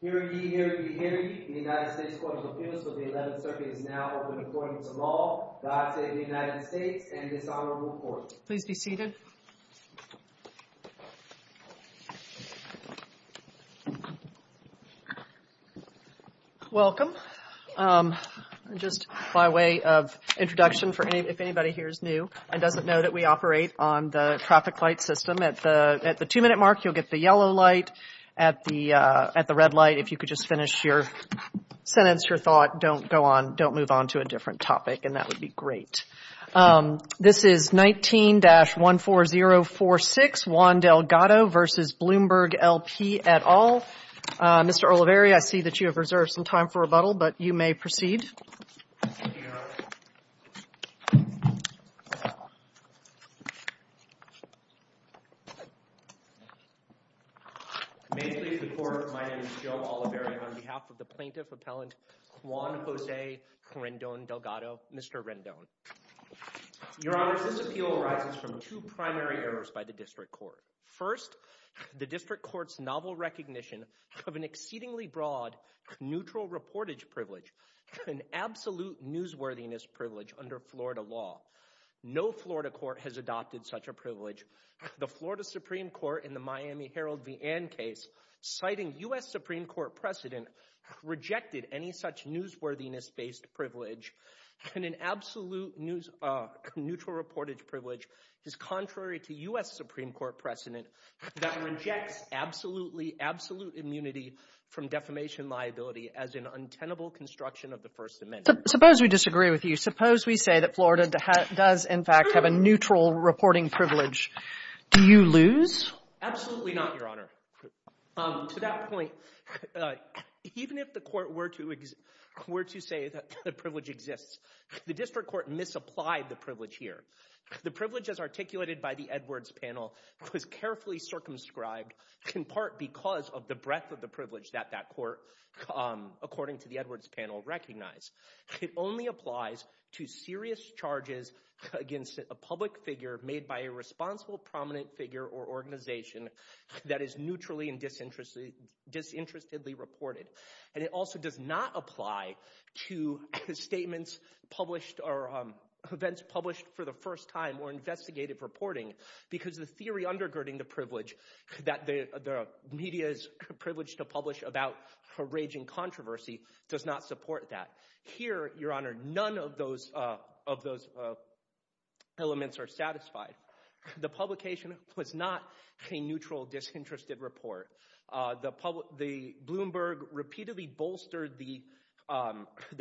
Hear ye, hear ye, hear ye. The United States Court of Appeals for the 11th Circuit is now open according to law. God save the United States and this Honorable Court. Please be seated. Welcome. Just by way of introduction, if anybody here is new and doesn't know that we operate on the traffic light system, at the two minute mark you'll get the yellow light. At the red light, if you could just finish your thought, don't go on, don't move on to a different topic and that would be great. This is 19-14046, Juan Delgado v. Bloomberg L.P. et al. Mr. Oliveri, I see that you have reserved some time for rebuttal, but you may proceed. May it please the court, my name is Joe Oliveri on behalf of the plaintiff appellant Juan Jose Rendon Delgado, Mr. Rendon. Your honors, this appeal arises from two primary errors by the district court. First, the district court's novel recognition of an absolute newsworthiness privilege under Florida law. No Florida court has adopted such a privilege. The Florida Supreme Court in the Miami Herald v. Ann case, citing U.S. Supreme Court precedent, rejected any such newsworthiness-based privilege and an absolute neutral reportage privilege is contrary to U.S. Supreme Court precedent that rejects absolute immunity from defamation liability as an untenable construction of the First Amendment. Suppose we disagree with you. Suppose we say that Florida does in fact have a neutral reporting privilege. Do you lose? Absolutely not, your honor. To that point, even if the court were to say that the privilege exists, the district court misapplied the privilege here. The privilege as articulated by the Edwards panel was carefully circumscribed in part because of the breadth of the privilege that that court, according to the Edwards panel, recognized. It only applies to serious charges against a public figure made by a responsible prominent figure or organization that is neutrally and disinterestedly reported. And it also does not apply to statements published or events published for the first time or investigative reporting because the theory undergirding the privilege that the media's privilege to publish about a raging controversy does not support that. Here, your honor, none of those elements are satisfied. The publication was not a neutral, disinterested report. Bloomberg repeatedly bolstered the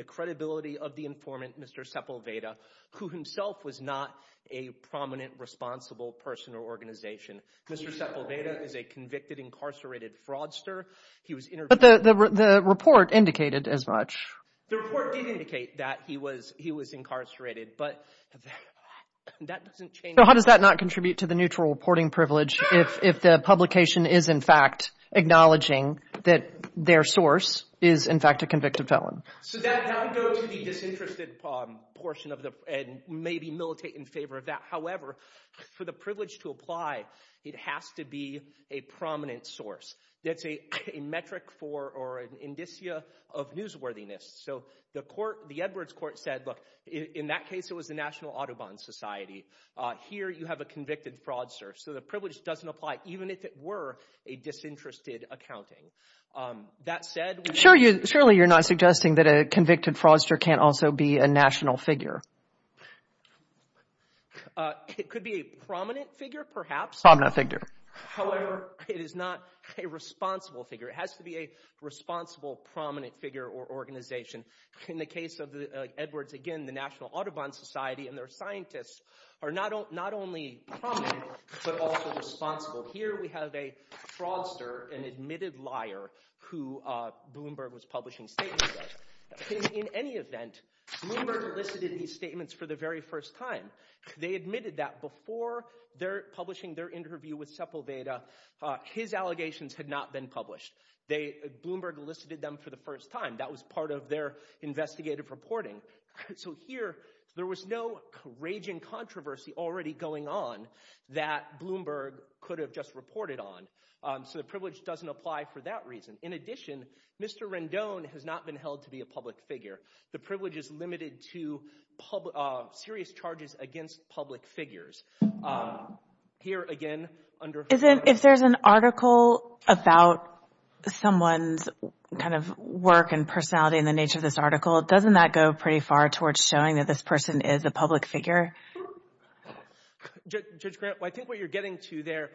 credibility of the informant, Mr. Sepulveda, who himself was not a prominent, responsible person or organization. Mr. Sepulveda is a convicted, incarcerated fraudster. But the report indicated as much. The report did indicate that he was incarcerated, but that doesn't change anything. So how does that not contribute to the neutral reporting privilege if the publication is in fact acknowledging that their source is in fact a convicted felon? So that would go to the disinterested portion and maybe militate in favor of that. However, for the privilege to apply, it has to be a prominent source. That's a metric for or an indicia of newsworthiness. So the court, the Edwards court, said, look, in that case, it was the National Audubon Society. Here, you have a convicted fraudster. So the privilege doesn't apply, even if it were a disinterested accounting. That said— Surely you're not suggesting that a convicted fraudster can't also be a national figure. It could be a prominent figure, perhaps. Prominent figure. However, it is not a responsible figure. It has to be a responsible, prominent figure or organization. In the case of Edwards, again, the National Audubon Society and their scientists are not only prominent, but also responsible. Here, we have a fraudster, an admitted liar, who Bloomberg was publishing statements with. In any event, Bloomberg elicited these statements for the very first time. They admitted that before publishing their interview with Sepulveda, his allegations had not been published. Bloomberg elicited them for the first time. That was part of their investigative reporting. So here, there was no raging controversy already going on that Bloomberg could have just reported on. So the privilege doesn't apply for that reason. In addition, Mr. Rendon has not been held to be a public figure. The privilege is limited to serious charges against public figures. Here, again, under... If there's an article about someone's kind of work and personality and the nature of this article, doesn't that go pretty far towards showing that this person is a public figure? Judge Grant, I think what you're getting to there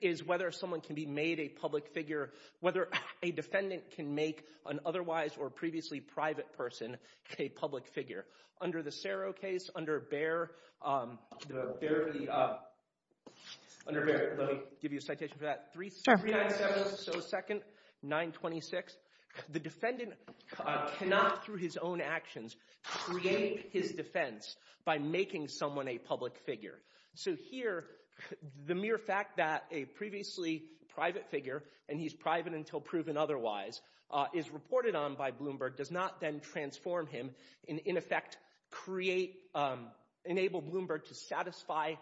is whether someone can be made a public figure, whether a defendant can make an otherwise or previously private person a public figure. Under the Cerro case, under Bayer... Let me give you a citation for that. 397, so second, 926. The defendant cannot, through his own actions, create his defense by making someone a public figure. So here, the mere fact that a previously private figure, and he's private until proven otherwise, is reported on by Bloomberg does not then transform him and, in effect, create, enable Bloomberg to satisfy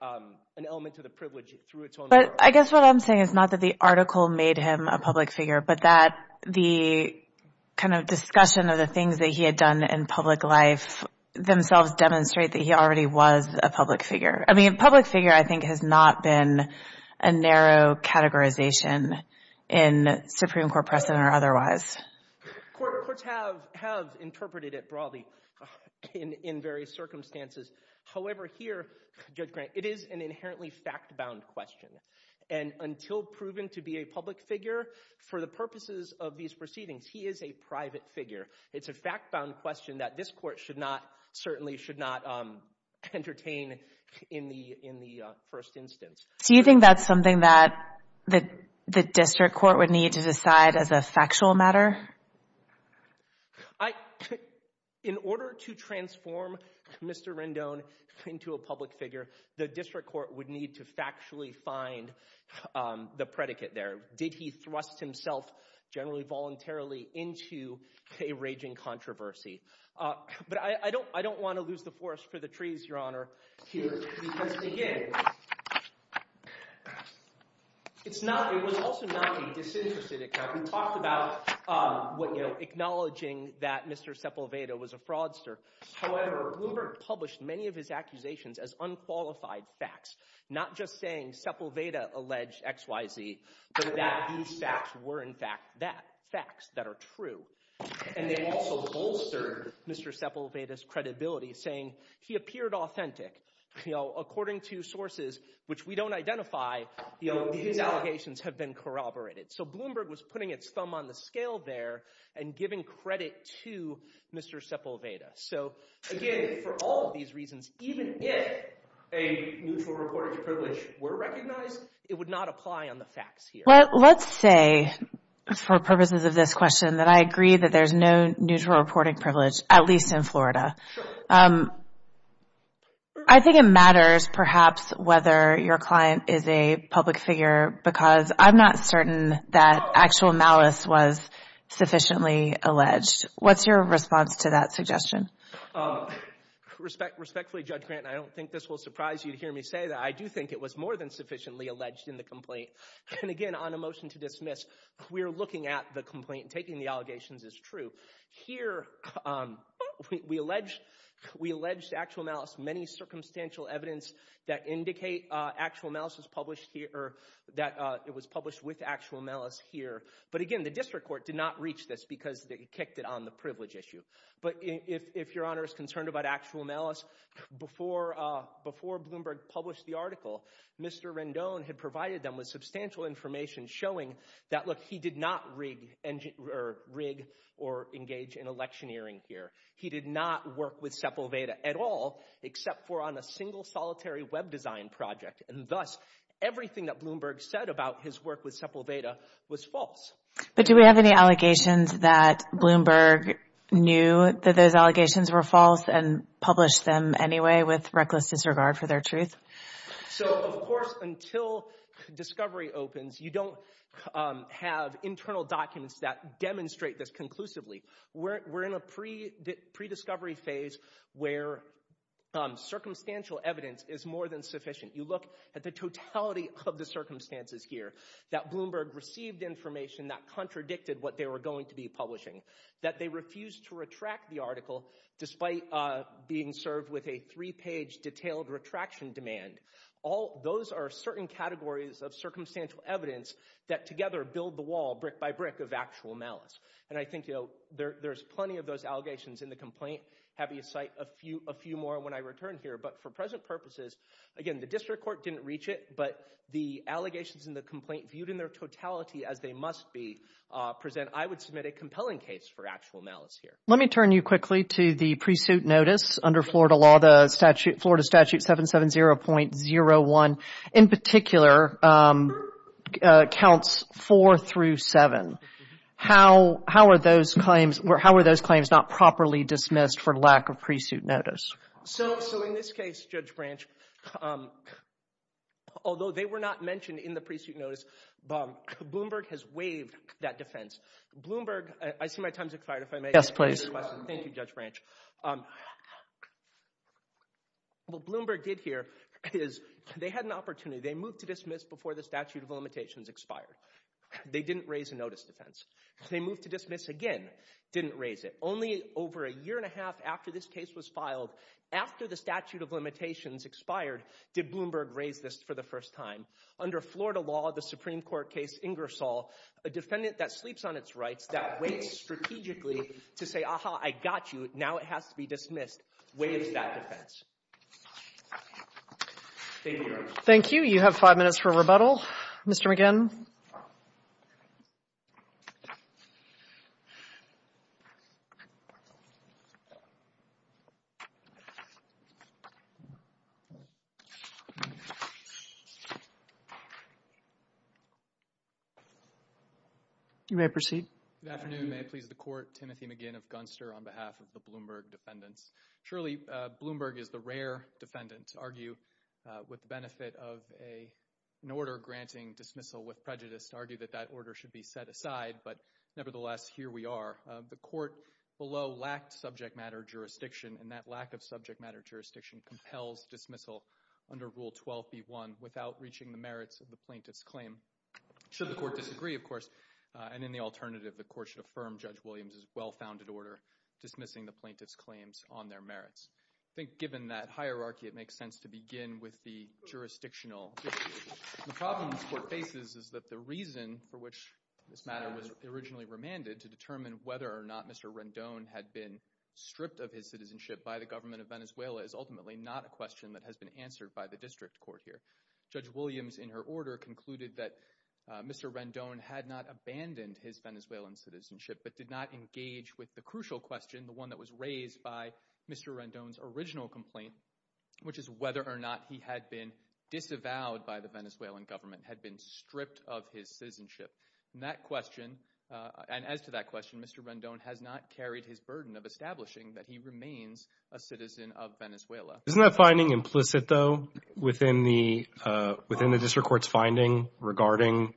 an element of the privilege through its own work. But I guess what I'm saying is not that the article made him a public figure, but that the kind of discussion of the things that he had done in public life themselves demonstrate that he already was a public figure. I mean, a public figure, I think, has not been a narrow categorization in Supreme Court precedent or otherwise. Courts have interpreted it broadly in various circumstances. However, here, Judge Grant, it is an inherently fact-bound question. And until proven to be a public figure, for the purposes of these proceedings, he is a private figure. It's a fact-bound question that this court certainly should not entertain in the first instance. So you think that's something that the district court would need to decide as a factual matter? In order to transform Mr. Rendon into a public figure, the district court would need to factually find the predicate there. Did he thrust himself generally voluntarily into a raging controversy? But I don't want to lose the forest for the trees, Your Honor, here. Because, again, it was also not a disinterested account. We talked about acknowledging that Mr. Sepulveda was a fraudster. However, Bloomberg published many of his accusations as unqualified facts, not just saying Sepulveda alleged X, Y, Z, but that these facts were, in fact, facts that are true. And they also bolstered Mr. Sepulveda's credibility, saying he appeared authentic. According to sources which we don't identify, his allegations have been corroborated. So Bloomberg was putting its thumb on the scale there and giving credit to Mr. Sepulveda. So, again, for all of these reasons, even if a neutral reporting privilege were recognized, it would not apply on the facts here. Let's say, for purposes of this question, that I agree that there's no neutral reporting privilege, at least in Florida. I think it matters, perhaps, whether your client is a public figure because I'm not certain that actual malice was sufficiently alleged. What's your response to that suggestion? Respectfully, Judge Grant, I don't think this will surprise you to hear me say that. I do think it was more than sufficiently alleged in the complaint. And, again, on a motion to dismiss, we are looking at the complaint and taking the allegations as true. Here, we allege actual malice, many circumstantial evidence that indicate actual malice was published here or that it was published with actual malice here. But, again, the district court did not reach this because they kicked it on the privilege issue. But if your Honor is concerned about actual malice, before Bloomberg published the article, Mr. Rendon had provided them with substantial information showing that, look, he did not rig or engage in electioneering here. He did not work with Sepulveda at all except for on a single solitary web design project. And, thus, everything that Bloomberg said about his work with Sepulveda was false. But do we have any allegations that Bloomberg knew that those allegations were false and published them anyway with reckless disregard for their truth? So, of course, until discovery opens, you don't have internal documents that demonstrate this conclusively. We're in a pre-discovery phase where circumstantial evidence is more than sufficient. You look at the totality of the circumstances here that Bloomberg received information that contradicted what they were going to be publishing, that they refused to retract the article despite being served with a three-page detailed retraction demand. Those are certain categories of circumstantial evidence that together build the wall brick by brick of actual malice. And I think there's plenty of those allegations in the complaint. I'll be citing a few more when I return here. But for present purposes, again, the district court didn't reach it, but the allegations in the complaint viewed in their totality as they must be present. I would submit a compelling case for actual malice here. Let me turn you quickly to the pre-suit notice under Florida law, the Florida Statute 770.01. In particular, counts four through seven. How are those claims not properly dismissed for lack of pre-suit notice? So in this case, Judge Branch, although they were not mentioned in the pre-suit notice, Bloomberg has waived that defense. Bloomberg—I see my time's expired if I may. Yes, please. Thank you, Judge Branch. What Bloomberg did here is they had an opportunity. They moved to dismiss before the statute of limitations expired. They didn't raise a notice defense. They moved to dismiss again, didn't raise it. Only over a year and a half after this case was filed, after the statute of limitations expired, did Bloomberg raise this for the first time. Under Florida law, the Supreme Court case Ingersoll, a defendant that sleeps on its rights, that waits strategically to say, aha, I got you, now it has to be dismissed, waives that defense. Thank you, Your Honor. Thank you. You have five minutes for rebuttal. Mr. McGinn. You may proceed. Good afternoon. May it please the Court. Timothy McGinn of Gunster on behalf of the Bloomberg defendants. Shirley, Bloomberg is the rare defendant to argue with the benefit of an order granting dismissal with prejudice, to argue that that order should be set aside, but nevertheless, here we are. The court below lacked subject matter jurisdiction, and that lack of subject matter jurisdiction compels dismissal under Rule 12b-1 without reaching the merits of the plaintiff's claim. Should the court disagree, of course, and in the alternative, the court should affirm Judge Williams' well-founded order dismissing the plaintiff's claims on their merits. I think given that hierarchy, it makes sense to begin with the jurisdictional issue. The problem this court faces is that the reason for which this matter was originally remanded, to determine whether or not Mr. Rendon had been stripped of his citizenship by the government of Venezuela, is ultimately not a question that has been answered by the district court here. Judge Williams, in her order, concluded that Mr. Rendon had not abandoned his Venezuelan citizenship, but did not engage with the crucial question, the one that was raised by Mr. Rendon's original complaint, which is whether or not he had been disavowed by the Venezuelan government, had been stripped of his citizenship. And that question, and as to that question, Mr. Rendon has not carried his burden of establishing that he remains a citizen of Venezuela. Isn't that finding implicit, though, within the district court's finding regarding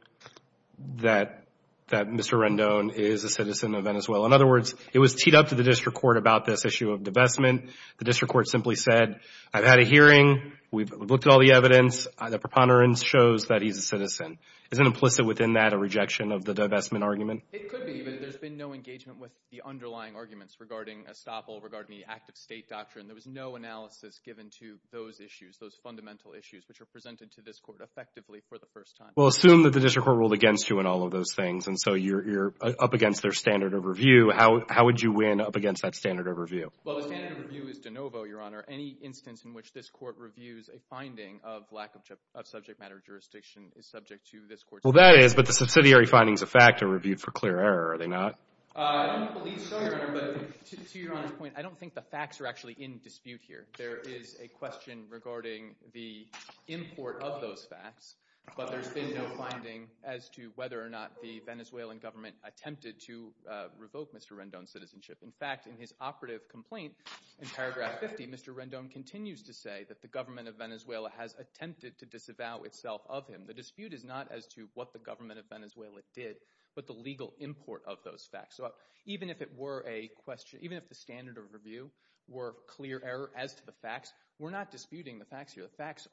that Mr. Rendon is a citizen of Venezuela? In other words, it was teed up to the district court about this issue of divestment. The district court simply said, I've had a hearing. We've looked at all the evidence. The preponderance shows that he's a citizen. Isn't implicit within that a rejection of the divestment argument? It could be, but there's been no engagement with the underlying arguments regarding estoppel, regarding the active state doctrine. There was no analysis given to those issues, those fundamental issues, which are presented to this court effectively for the first time. Well, assume that the district court ruled against you in all of those things, and so you're up against their standard of review. How would you win up against that standard of review? Well, the standard of review is de novo, Your Honor. Any instance in which this court reviews a finding of lack of subject matter jurisdiction is subject to this court's judgment. Well, that is, but the subsidiary findings of fact are reviewed for clear error, are they not? I don't believe so, Your Honor, but to Your Honor's point, I don't think the facts are actually in dispute here. There is a question regarding the import of those facts, but there's been no finding as to whether or not the Venezuelan government attempted to revoke Mr. Rendon's citizenship. In fact, in his operative complaint in paragraph 50, Mr. Rendon continues to say that the government of Venezuela has attempted to disavow itself of him. The dispute is not as to what the government of Venezuela did, but the legal import of those facts. So even if the standard of review were clear error as to the facts, we're not disputing the facts here. The facts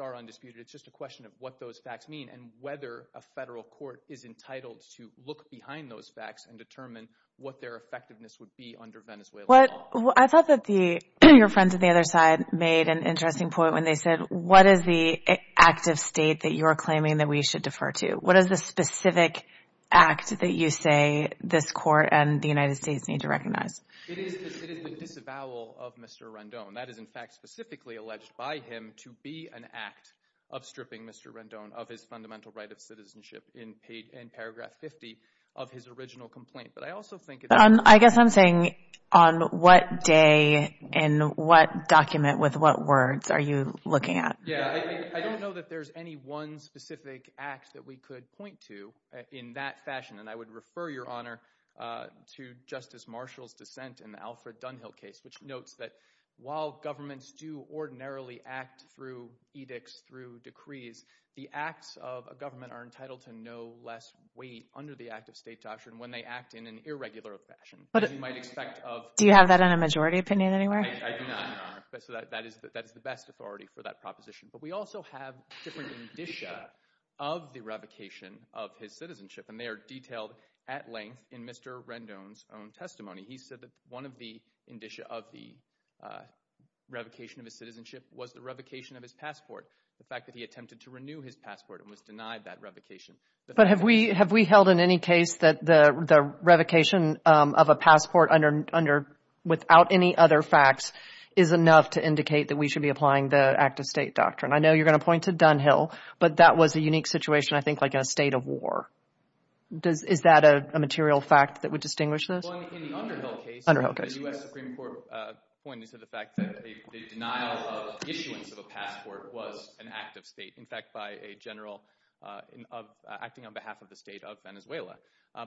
are undisputed. It's just a question of what those facts mean and whether a federal court is entitled to look behind those facts and determine what their effectiveness would be under Venezuelan law. I thought that your friends on the other side made an interesting point when they said, what is the active state that you're claiming that we should defer to? What is the specific act that you say this court and the United States need to recognize? It is the disavowal of Mr. Rendon. That is, in fact, specifically alleged by him to be an act of stripping Mr. Rendon of his fundamental right of citizenship in paragraph 50 of his original complaint. I guess I'm saying on what day and what document with what words are you looking at? I don't know that there's any one specific act that we could point to in that fashion, and I would refer your Honor to Justice Marshall's dissent in the Alfred Dunhill case, which notes that while governments do ordinarily act through edicts, through decrees, the acts of a government are entitled to no less weight under the active state doctrine when they act in an irregular fashion. Do you have that in a majority opinion anywhere? I do not, Your Honor, so that is the best authority for that proposition. But we also have different indicia of the revocation of his citizenship, and they are detailed at length in Mr. Rendon's own testimony. He said that one of the indicia of the revocation of his citizenship was the revocation of his passport, the fact that he attempted to renew his passport and was denied that revocation. But have we held in any case that the revocation of a passport without any other facts is enough to indicate that we should be applying the active state doctrine? I know you're going to point to Dunhill, but that was a unique situation, I think, like in a state of war. Is that a material fact that would distinguish this? Well, in the Underhill case, the U.S. Supreme Court pointed to the fact that the denial of issuance of a passport was an active state, in fact, acting on behalf of the state of Venezuela.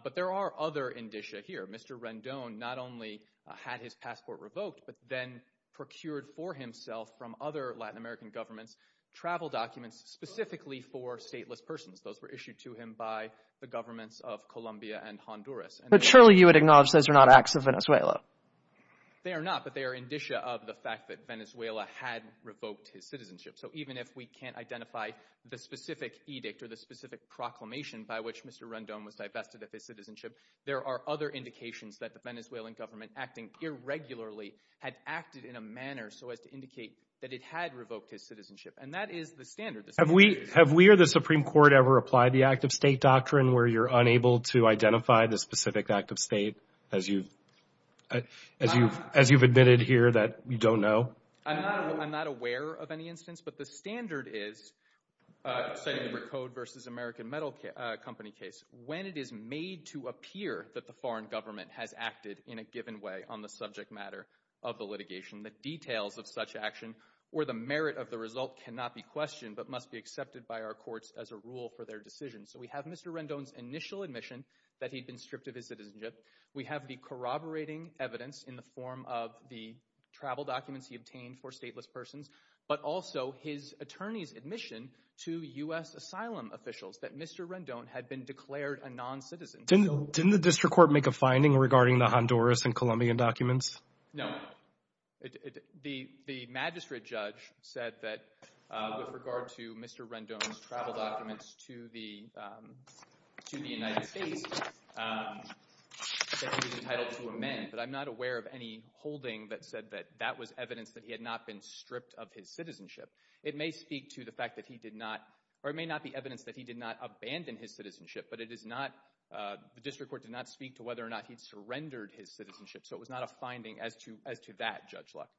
But there are other indicia here. Mr. Rendon not only had his passport revoked, but then procured for himself from other Latin American governments travel documents specifically for stateless persons. Those were issued to him by the governments of Colombia and Honduras. But surely you would acknowledge those are not acts of Venezuela. They are not, but they are indicia of the fact that Venezuela had revoked his citizenship. So even if we can't identify the specific edict or the specific proclamation by which Mr. Rendon was divested of his citizenship, there are other indications that the Venezuelan government, acting irregularly, had acted in a manner so as to indicate that it had revoked his citizenship. And that is the standard. Have we or the Supreme Court ever applied the active state doctrine where you're unable to identify the specific active state, as you've admitted here that you don't know? I'm not aware of any instance. But the standard is, citing the Recode v. American Metal Company case, when it is made to appear that the foreign government has acted in a given way on the subject matter of the litigation, the details of such action or the merit of the result cannot be questioned, but must be accepted by our courts as a rule for their decision. So we have Mr. Rendon's initial admission that he'd been stripped of his citizenship. We have the corroborating evidence in the form of the travel documents he obtained for stateless persons, but also his attorney's admission to U.S. asylum officials that Mr. Rendon had been declared a noncitizen. Didn't the district court make a finding regarding the Honduras and Colombian documents? No. The magistrate judge said that with regard to Mr. Rendon's travel documents to the United States that he was entitled to amend, but I'm not aware of any holding that said that that was evidence that he had not been stripped of his citizenship. It may speak to the fact that he did not, or it may not be evidence that he did not abandon his citizenship, but it is not, the district court did not speak to whether or not he surrendered his citizenship. So it was not a finding as to that, Judge Luck.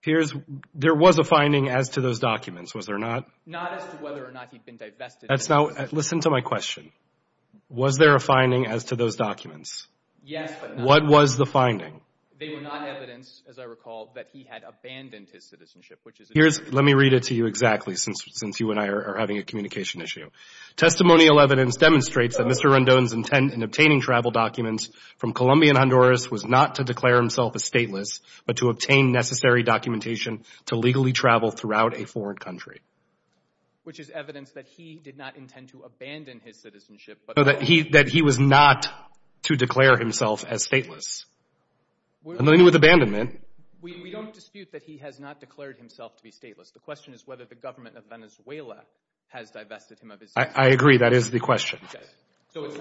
There was a finding as to those documents, was there not? Not as to whether or not he'd been divested. Listen to my question. Was there a finding as to those documents? Yes, but not. What was the finding? They were not evidence, as I recall, that he had abandoned his citizenship. Let me read it to you exactly, since you and I are having a communication issue. Testimonial evidence demonstrates that Mr. Rendon's intent in obtaining travel documents from Colombian Honduras was not to declare himself a stateless, but to obtain necessary documentation to legally travel throughout a foreign country. Which is evidence that he did not intend to abandon his citizenship. No, that he was not to declare himself as stateless. And then with abandonment. We don't dispute that he has not declared himself to be stateless. The question is whether the government of Venezuela has divested him of his citizenship. I agree. That is the question. So it's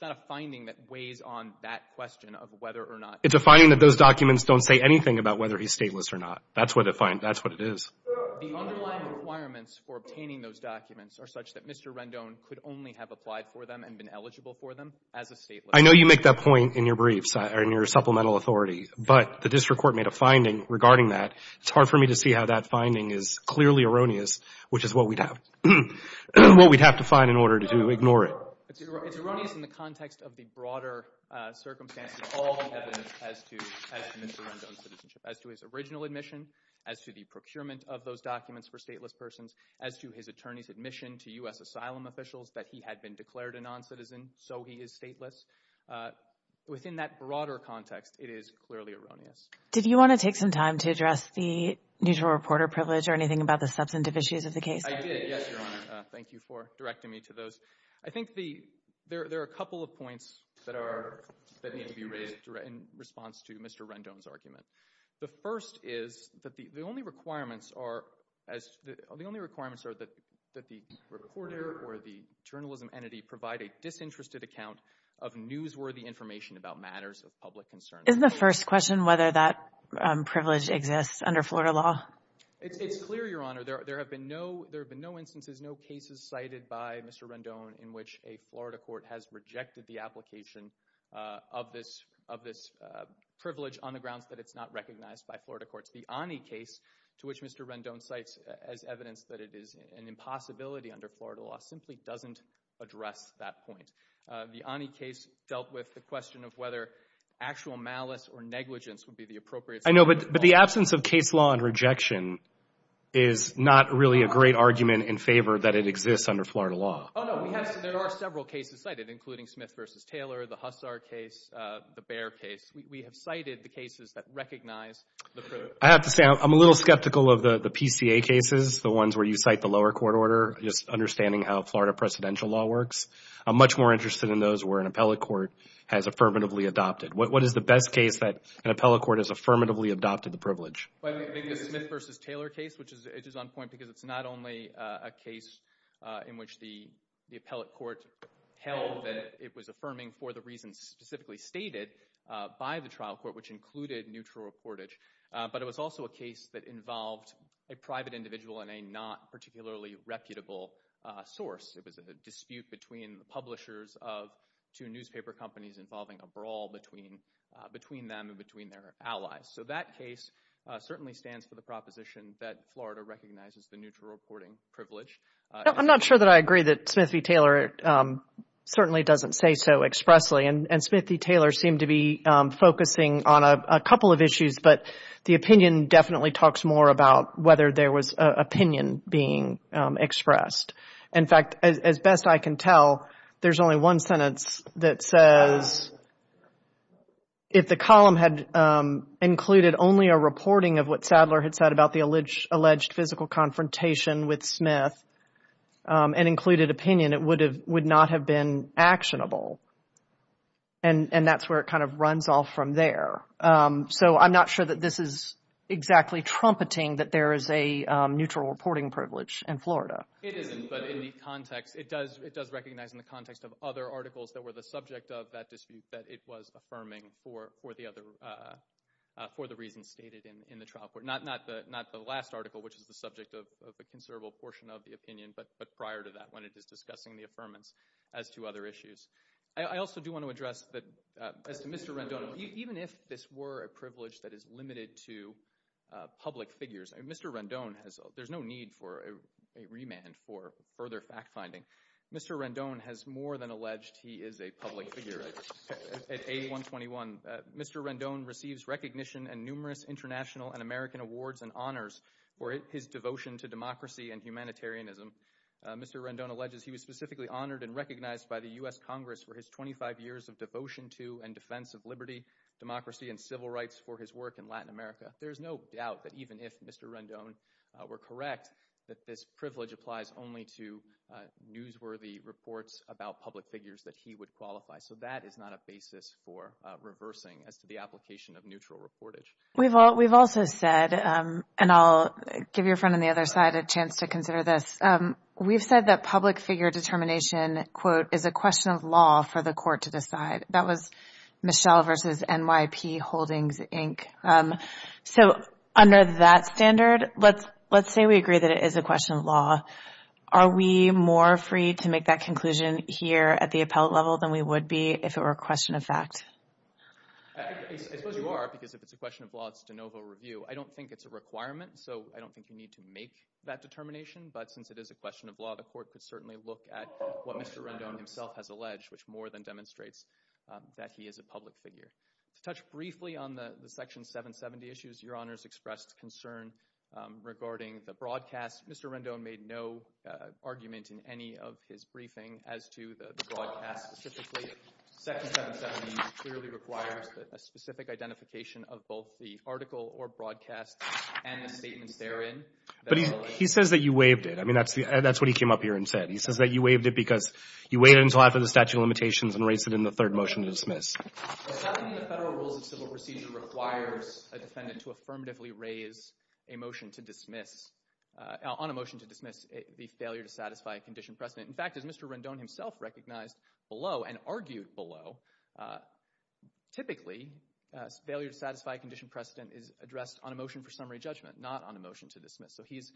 not a finding that weighs on that question of whether or not. It's a finding that those documents don't say anything about whether he's stateless or not. That's what it is. The underlying requirements for obtaining those documents are such that Mr. Rendon could only have applied for them and been eligible for them as a stateless. I know you make that point in your briefs, in your supplemental authority, but the district court made a finding regarding that. It's hard for me to see how that finding is clearly erroneous, which is what we'd have to find in order to ignore it. It's erroneous in the context of the broader circumstances of all the evidence as to Mr. Rendon's citizenship, as to his original admission, as to the procurement of those documents for stateless persons, as to his attorney's admission to U.S. asylum officials that he had been declared a noncitizen, so he is stateless. Within that broader context, it is clearly erroneous. Did you want to take some time to address the neutral reporter privilege or anything about the substantive issues of the case? I did, yes, Your Honor. Thank you for directing me to those. I think there are a couple of points that need to be raised in response to Mr. Rendon's argument. The first is that the only requirements are that the reporter or the journalism entity provide a disinterested account of newsworthy information about matters of public concern. Isn't the first question whether that privilege exists under Florida law? It's clear, Your Honor. There have been no instances, no cases cited by Mr. Rendon in which a Florida court has rejected the application of this privilege on the grounds that it's not recognized by Florida courts. The Ani case, to which Mr. Rendon cites as evidence that it is an impossibility under Florida law, simply doesn't address that point. The Ani case dealt with the question of whether actual malice or negligence would be the appropriate— I know, but the absence of case law and rejection is not really a great argument in favor that it exists under Florida law. Oh, no. There are several cases cited, including Smith v. Taylor, the Hussar case, the Bear case. We have cited the cases that recognize the privilege. I have to say, I'm a little skeptical of the PCA cases, the ones where you cite the lower court order, just understanding how Florida presidential law works. I'm much more interested in those where an appellate court has affirmatively adopted. What is the best case that an appellate court has affirmatively adopted the privilege? The Smith v. Taylor case, which is on point because it's not only a case in which the appellate court held that it was affirming for the reasons specifically stated by the trial court, which included neutral reportage, but it was also a case that involved a private individual and a not particularly reputable source. It was a dispute between the publishers of two newspaper companies involving a brawl between them and between their allies. So that case certainly stands for the proposition that Florida recognizes the neutral reporting privilege. I'm not sure that I agree that Smith v. Taylor certainly doesn't say so expressly, and Smith v. Taylor seemed to be focusing on a couple of issues, but the opinion definitely talks more about whether there was opinion being expressed. In fact, as best I can tell, there's only one sentence that says if the column had included only a reporting of what Sadler had said about the alleged physical confrontation with Smith and included opinion, it would not have been actionable, and that's where it kind of runs off from there. So I'm not sure that this is exactly trumpeting that there is a neutral reporting privilege in Florida. It isn't, but it does recognize in the context of other articles that were the subject of that dispute that it was affirming for the reasons stated in the trial court. Not the last article, which is the subject of a considerable portion of the opinion, but prior to that when it is discussing the affirmance as to other issues. I also do want to address that as to Mr. Rendon, even if this were a privilege that is limited to public figures, there's no need for a remand for further fact-finding. Mr. Rendon has more than alleged he is a public figure at A121. Mr. Rendon receives recognition and numerous international and American awards and honors for his devotion to democracy and humanitarianism. Mr. Rendon alleges he was specifically honored and recognized by the U.S. Congress for his 25 years of devotion to and defense of liberty, democracy, and civil rights for his work in Latin America. There is no doubt that even if Mr. Rendon were correct that this privilege applies only to newsworthy reports about public figures that he would qualify. So that is not a basis for reversing as to the application of neutral reportage. We've also said, and I'll give your friend on the other side a chance to consider this, we've said that public figure determination, quote, is a question of law for the court to decide. That was Michelle versus NYP Holdings, Inc. So under that standard, let's say we agree that it is a question of law. Are we more free to make that conclusion here at the appellate level than we would be if it were a question of fact? I suppose you are, because if it's a question of law, it's de novo review. I don't think it's a requirement, so I don't think you need to make that determination. But since it is a question of law, the court could certainly look at what Mr. Rendon himself has alleged, which more than demonstrates that he is a public figure. To touch briefly on the Section 770 issues, Your Honors expressed concern regarding the broadcast. Mr. Rendon made no argument in any of his briefing as to the broadcast specifically. Section 770 clearly requires a specific identification of both the article or broadcast and the statements therein. But he says that you waived it. I mean, that's what he came up here and said. He says that you waived it because you waived it until after the statute of limitations and raised it in the third motion to dismiss. The 770 Federal Rules of Civil Procedure requires a defendant to affirmatively raise a motion to dismiss, on a motion to dismiss, the failure to satisfy a condition precedent. In fact, as Mr. Rendon himself recognized below and argued below, typically failure to satisfy a condition precedent is addressed on a motion for summary judgment, not on a motion to dismiss. So he's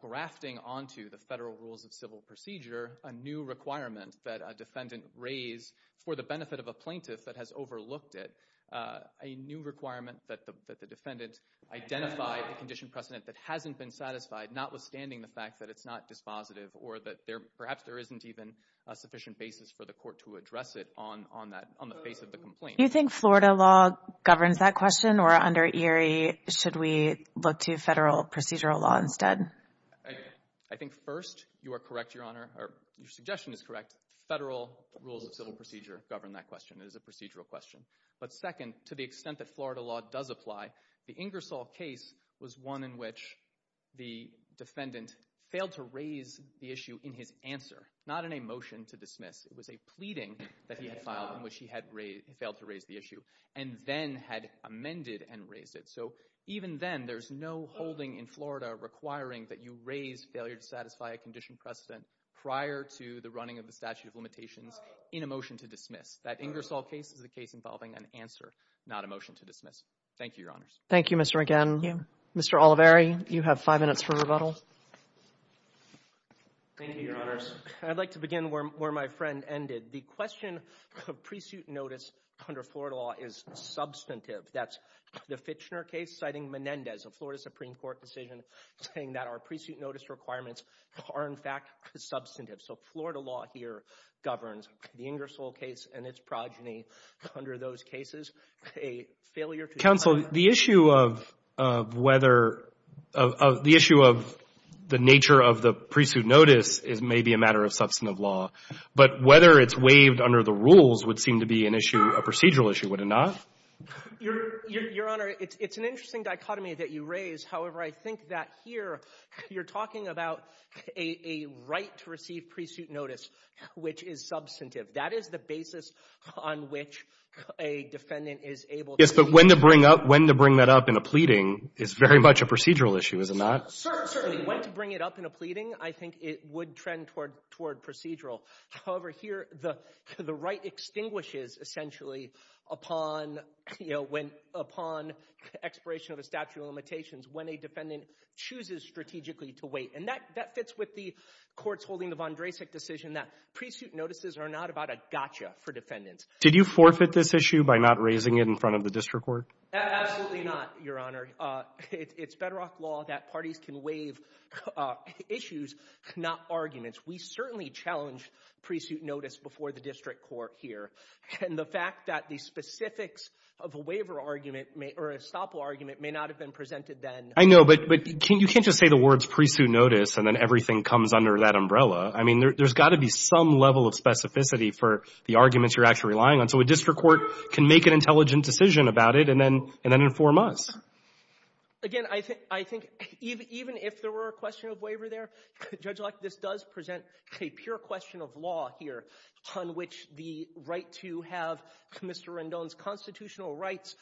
grafting onto the Federal Rules of Civil Procedure a new requirement that a defendant raise for the benefit of a plaintiff that has overlooked it, a new requirement that the defendant identify a condition precedent that hasn't been satisfied, notwithstanding the fact that it's not dispositive or that perhaps there isn't even a sufficient basis for the court to address it on the basis of the complaint. Do you think Florida law governs that question, or under Erie should we look to Federal Procedural Law instead? I think first, you are correct, Your Honor, or your suggestion is correct. Federal Rules of Civil Procedure govern that question. It is a procedural question. But second, to the extent that Florida law does apply, the Ingersoll case was one in which the defendant failed to raise the issue in his answer, not in a motion to dismiss. It was a pleading that he had filed in which he had failed to raise the issue and then had amended and raised it. So even then, there's no holding in Florida requiring that you raise failure to satisfy a condition precedent prior to the running of the statute of limitations in a motion to dismiss. That Ingersoll case is a case involving an answer, not a motion to dismiss. Thank you, Your Honors. Thank you, Mr. Regan. Mr. Oliveri, you have five minutes for rebuttal. Thank you, Your Honors. I'd like to begin where my friend ended. The question of pre-suit notice under Florida law is substantive. That's the Fitchner case citing Menendez, a Florida Supreme Court decision, saying that our pre-suit notice requirements are, in fact, substantive. So Florida law here governs the Ingersoll case and its progeny. Under those cases, a failure to justify Counsel, the issue of the nature of the pre-suit notice may be a matter of substantive law. But whether it's waived under the rules would seem to be an issue, a procedural issue, would it not? Your Honor, it's an interesting dichotomy that you raise. However, I think that here, you're talking about a right to receive pre-suit notice, which is substantive. That is the basis on which a defendant is able to plead. Yes, but when to bring that up in a pleading is very much a procedural issue, is it not? Certainly. When to bring it up in a pleading, I think it would trend toward procedural. However, here, the right extinguishes, essentially, upon expiration of a statute of limitations when a defendant chooses strategically to wait. And that fits with the courts holding the Von Drasek decision that pre-suit notices are not about a gotcha for defendants. Did you forfeit this issue by not raising it in front of the district court? Absolutely not, Your Honor. It's Bedrock law that parties can waive issues, not arguments. We certainly challenged pre-suit notice before the district court here. And the fact that the specifics of a waiver argument, or a estoppel argument, may not have been presented then. I know, but you can't just say the words pre-suit notice and then everything comes under that umbrella. I mean, there's got to be some level of specificity for the arguments you're actually relying on. So a district court can make an intelligent decision about it and then inform us. Again, I think even if there were a question of waiver there, Judge Locke, this does present a pure question of law here on which the right to have Mr. Rendon's constitutional rights,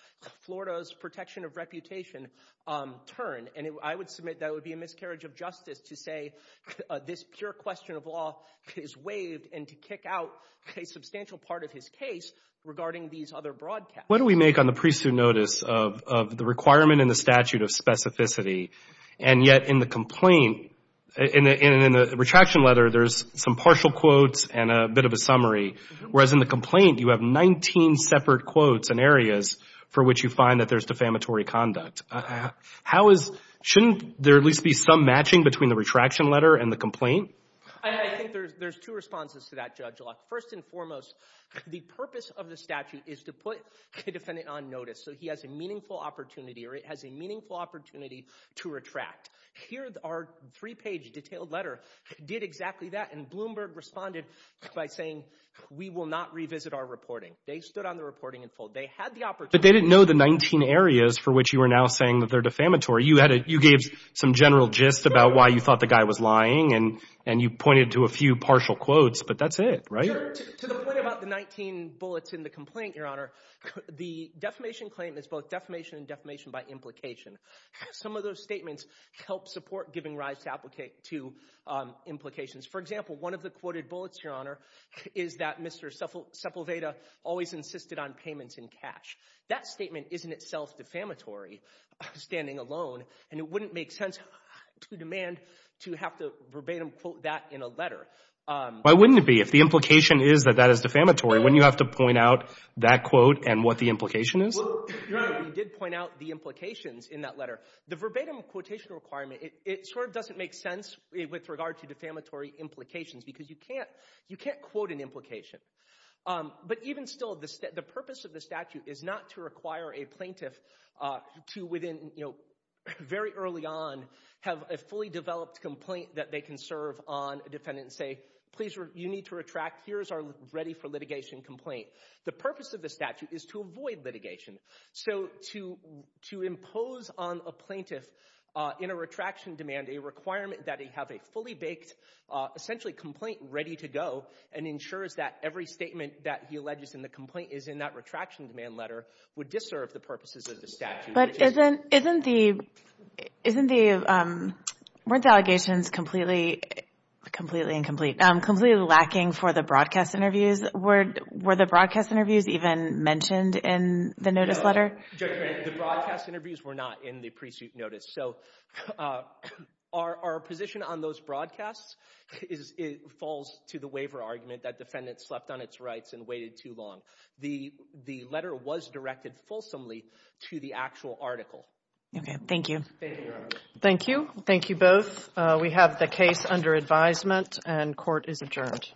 Florida's protection of reputation, turn. And I would submit that would be a miscarriage of justice to say this pure question of law is waived and to kick out a substantial part of his case regarding these other broadcasts. What do we make on the pre-suit notice of the requirement in the statute of specificity? And yet in the complaint, in the retraction letter, there's some partial quotes and a bit of a summary. Whereas in the complaint, you have 19 separate quotes and areas for which you find that there's defamatory conduct. Shouldn't there at least be some matching between the retraction letter and the I think there's two responses to that, Judge Locke. First and foremost, the purpose of the statute is to put a defendant on notice so he has a meaningful opportunity or it has a meaningful opportunity to retract. Here, our three-page detailed letter did exactly that and Bloomberg responded by saying, we will not revisit our reporting. They stood on the reporting in full. They had the opportunity. But they didn't know the 19 areas for which you are now saying that they're defamatory. You gave some general gist about why you thought the guy was lying and you pointed to a few partial quotes. But that's it, right? To the point about the 19 bullets in the complaint, Your Honor, the defamation claim is both defamation and defamation by implication. Some of those statements help support giving rise to implications. For example, one of the quoted bullets, Your Honor, is that Mr. Sepulveda always insisted on payments in cash. That statement is in itself defamatory, standing alone, and it wouldn't make sense to demand to have to verbatim quote that in a letter. Why wouldn't it be? If the implication is that that is defamatory, wouldn't you have to point out that quote and what the implication is? Well, Your Honor, you did point out the implications in that letter. The verbatim quotation requirement, it sort of doesn't make sense with regard to defamatory implications because you can't quote an implication. But even still, the purpose of the statute is not to require a plaintiff to within, you know, very early on, have a fully developed complaint that they can serve on a defendant and say, Please, you need to retract. Here is our ready for litigation complaint. The purpose of the statute is to avoid litigation. So to impose on a plaintiff in a retraction demand a requirement that they have a fully baked, essentially complaint ready to go and ensures that every statement that he alleges in the complaint is in that retraction demand letter would disserve the purposes of the statute. But isn't the, weren't the allegations completely, completely incomplete, completely lacking for the broadcast interviews? Were the broadcast interviews even mentioned in the notice letter? The broadcast interviews were not in the pre-suit notice. So our position on those broadcasts falls to the waiver argument that defendant slept on its rights and waited too long. The letter was directed fulsomely to the actual article. Thank you. Thank you. Thank you both. We have the case under advisement and court is adjourned.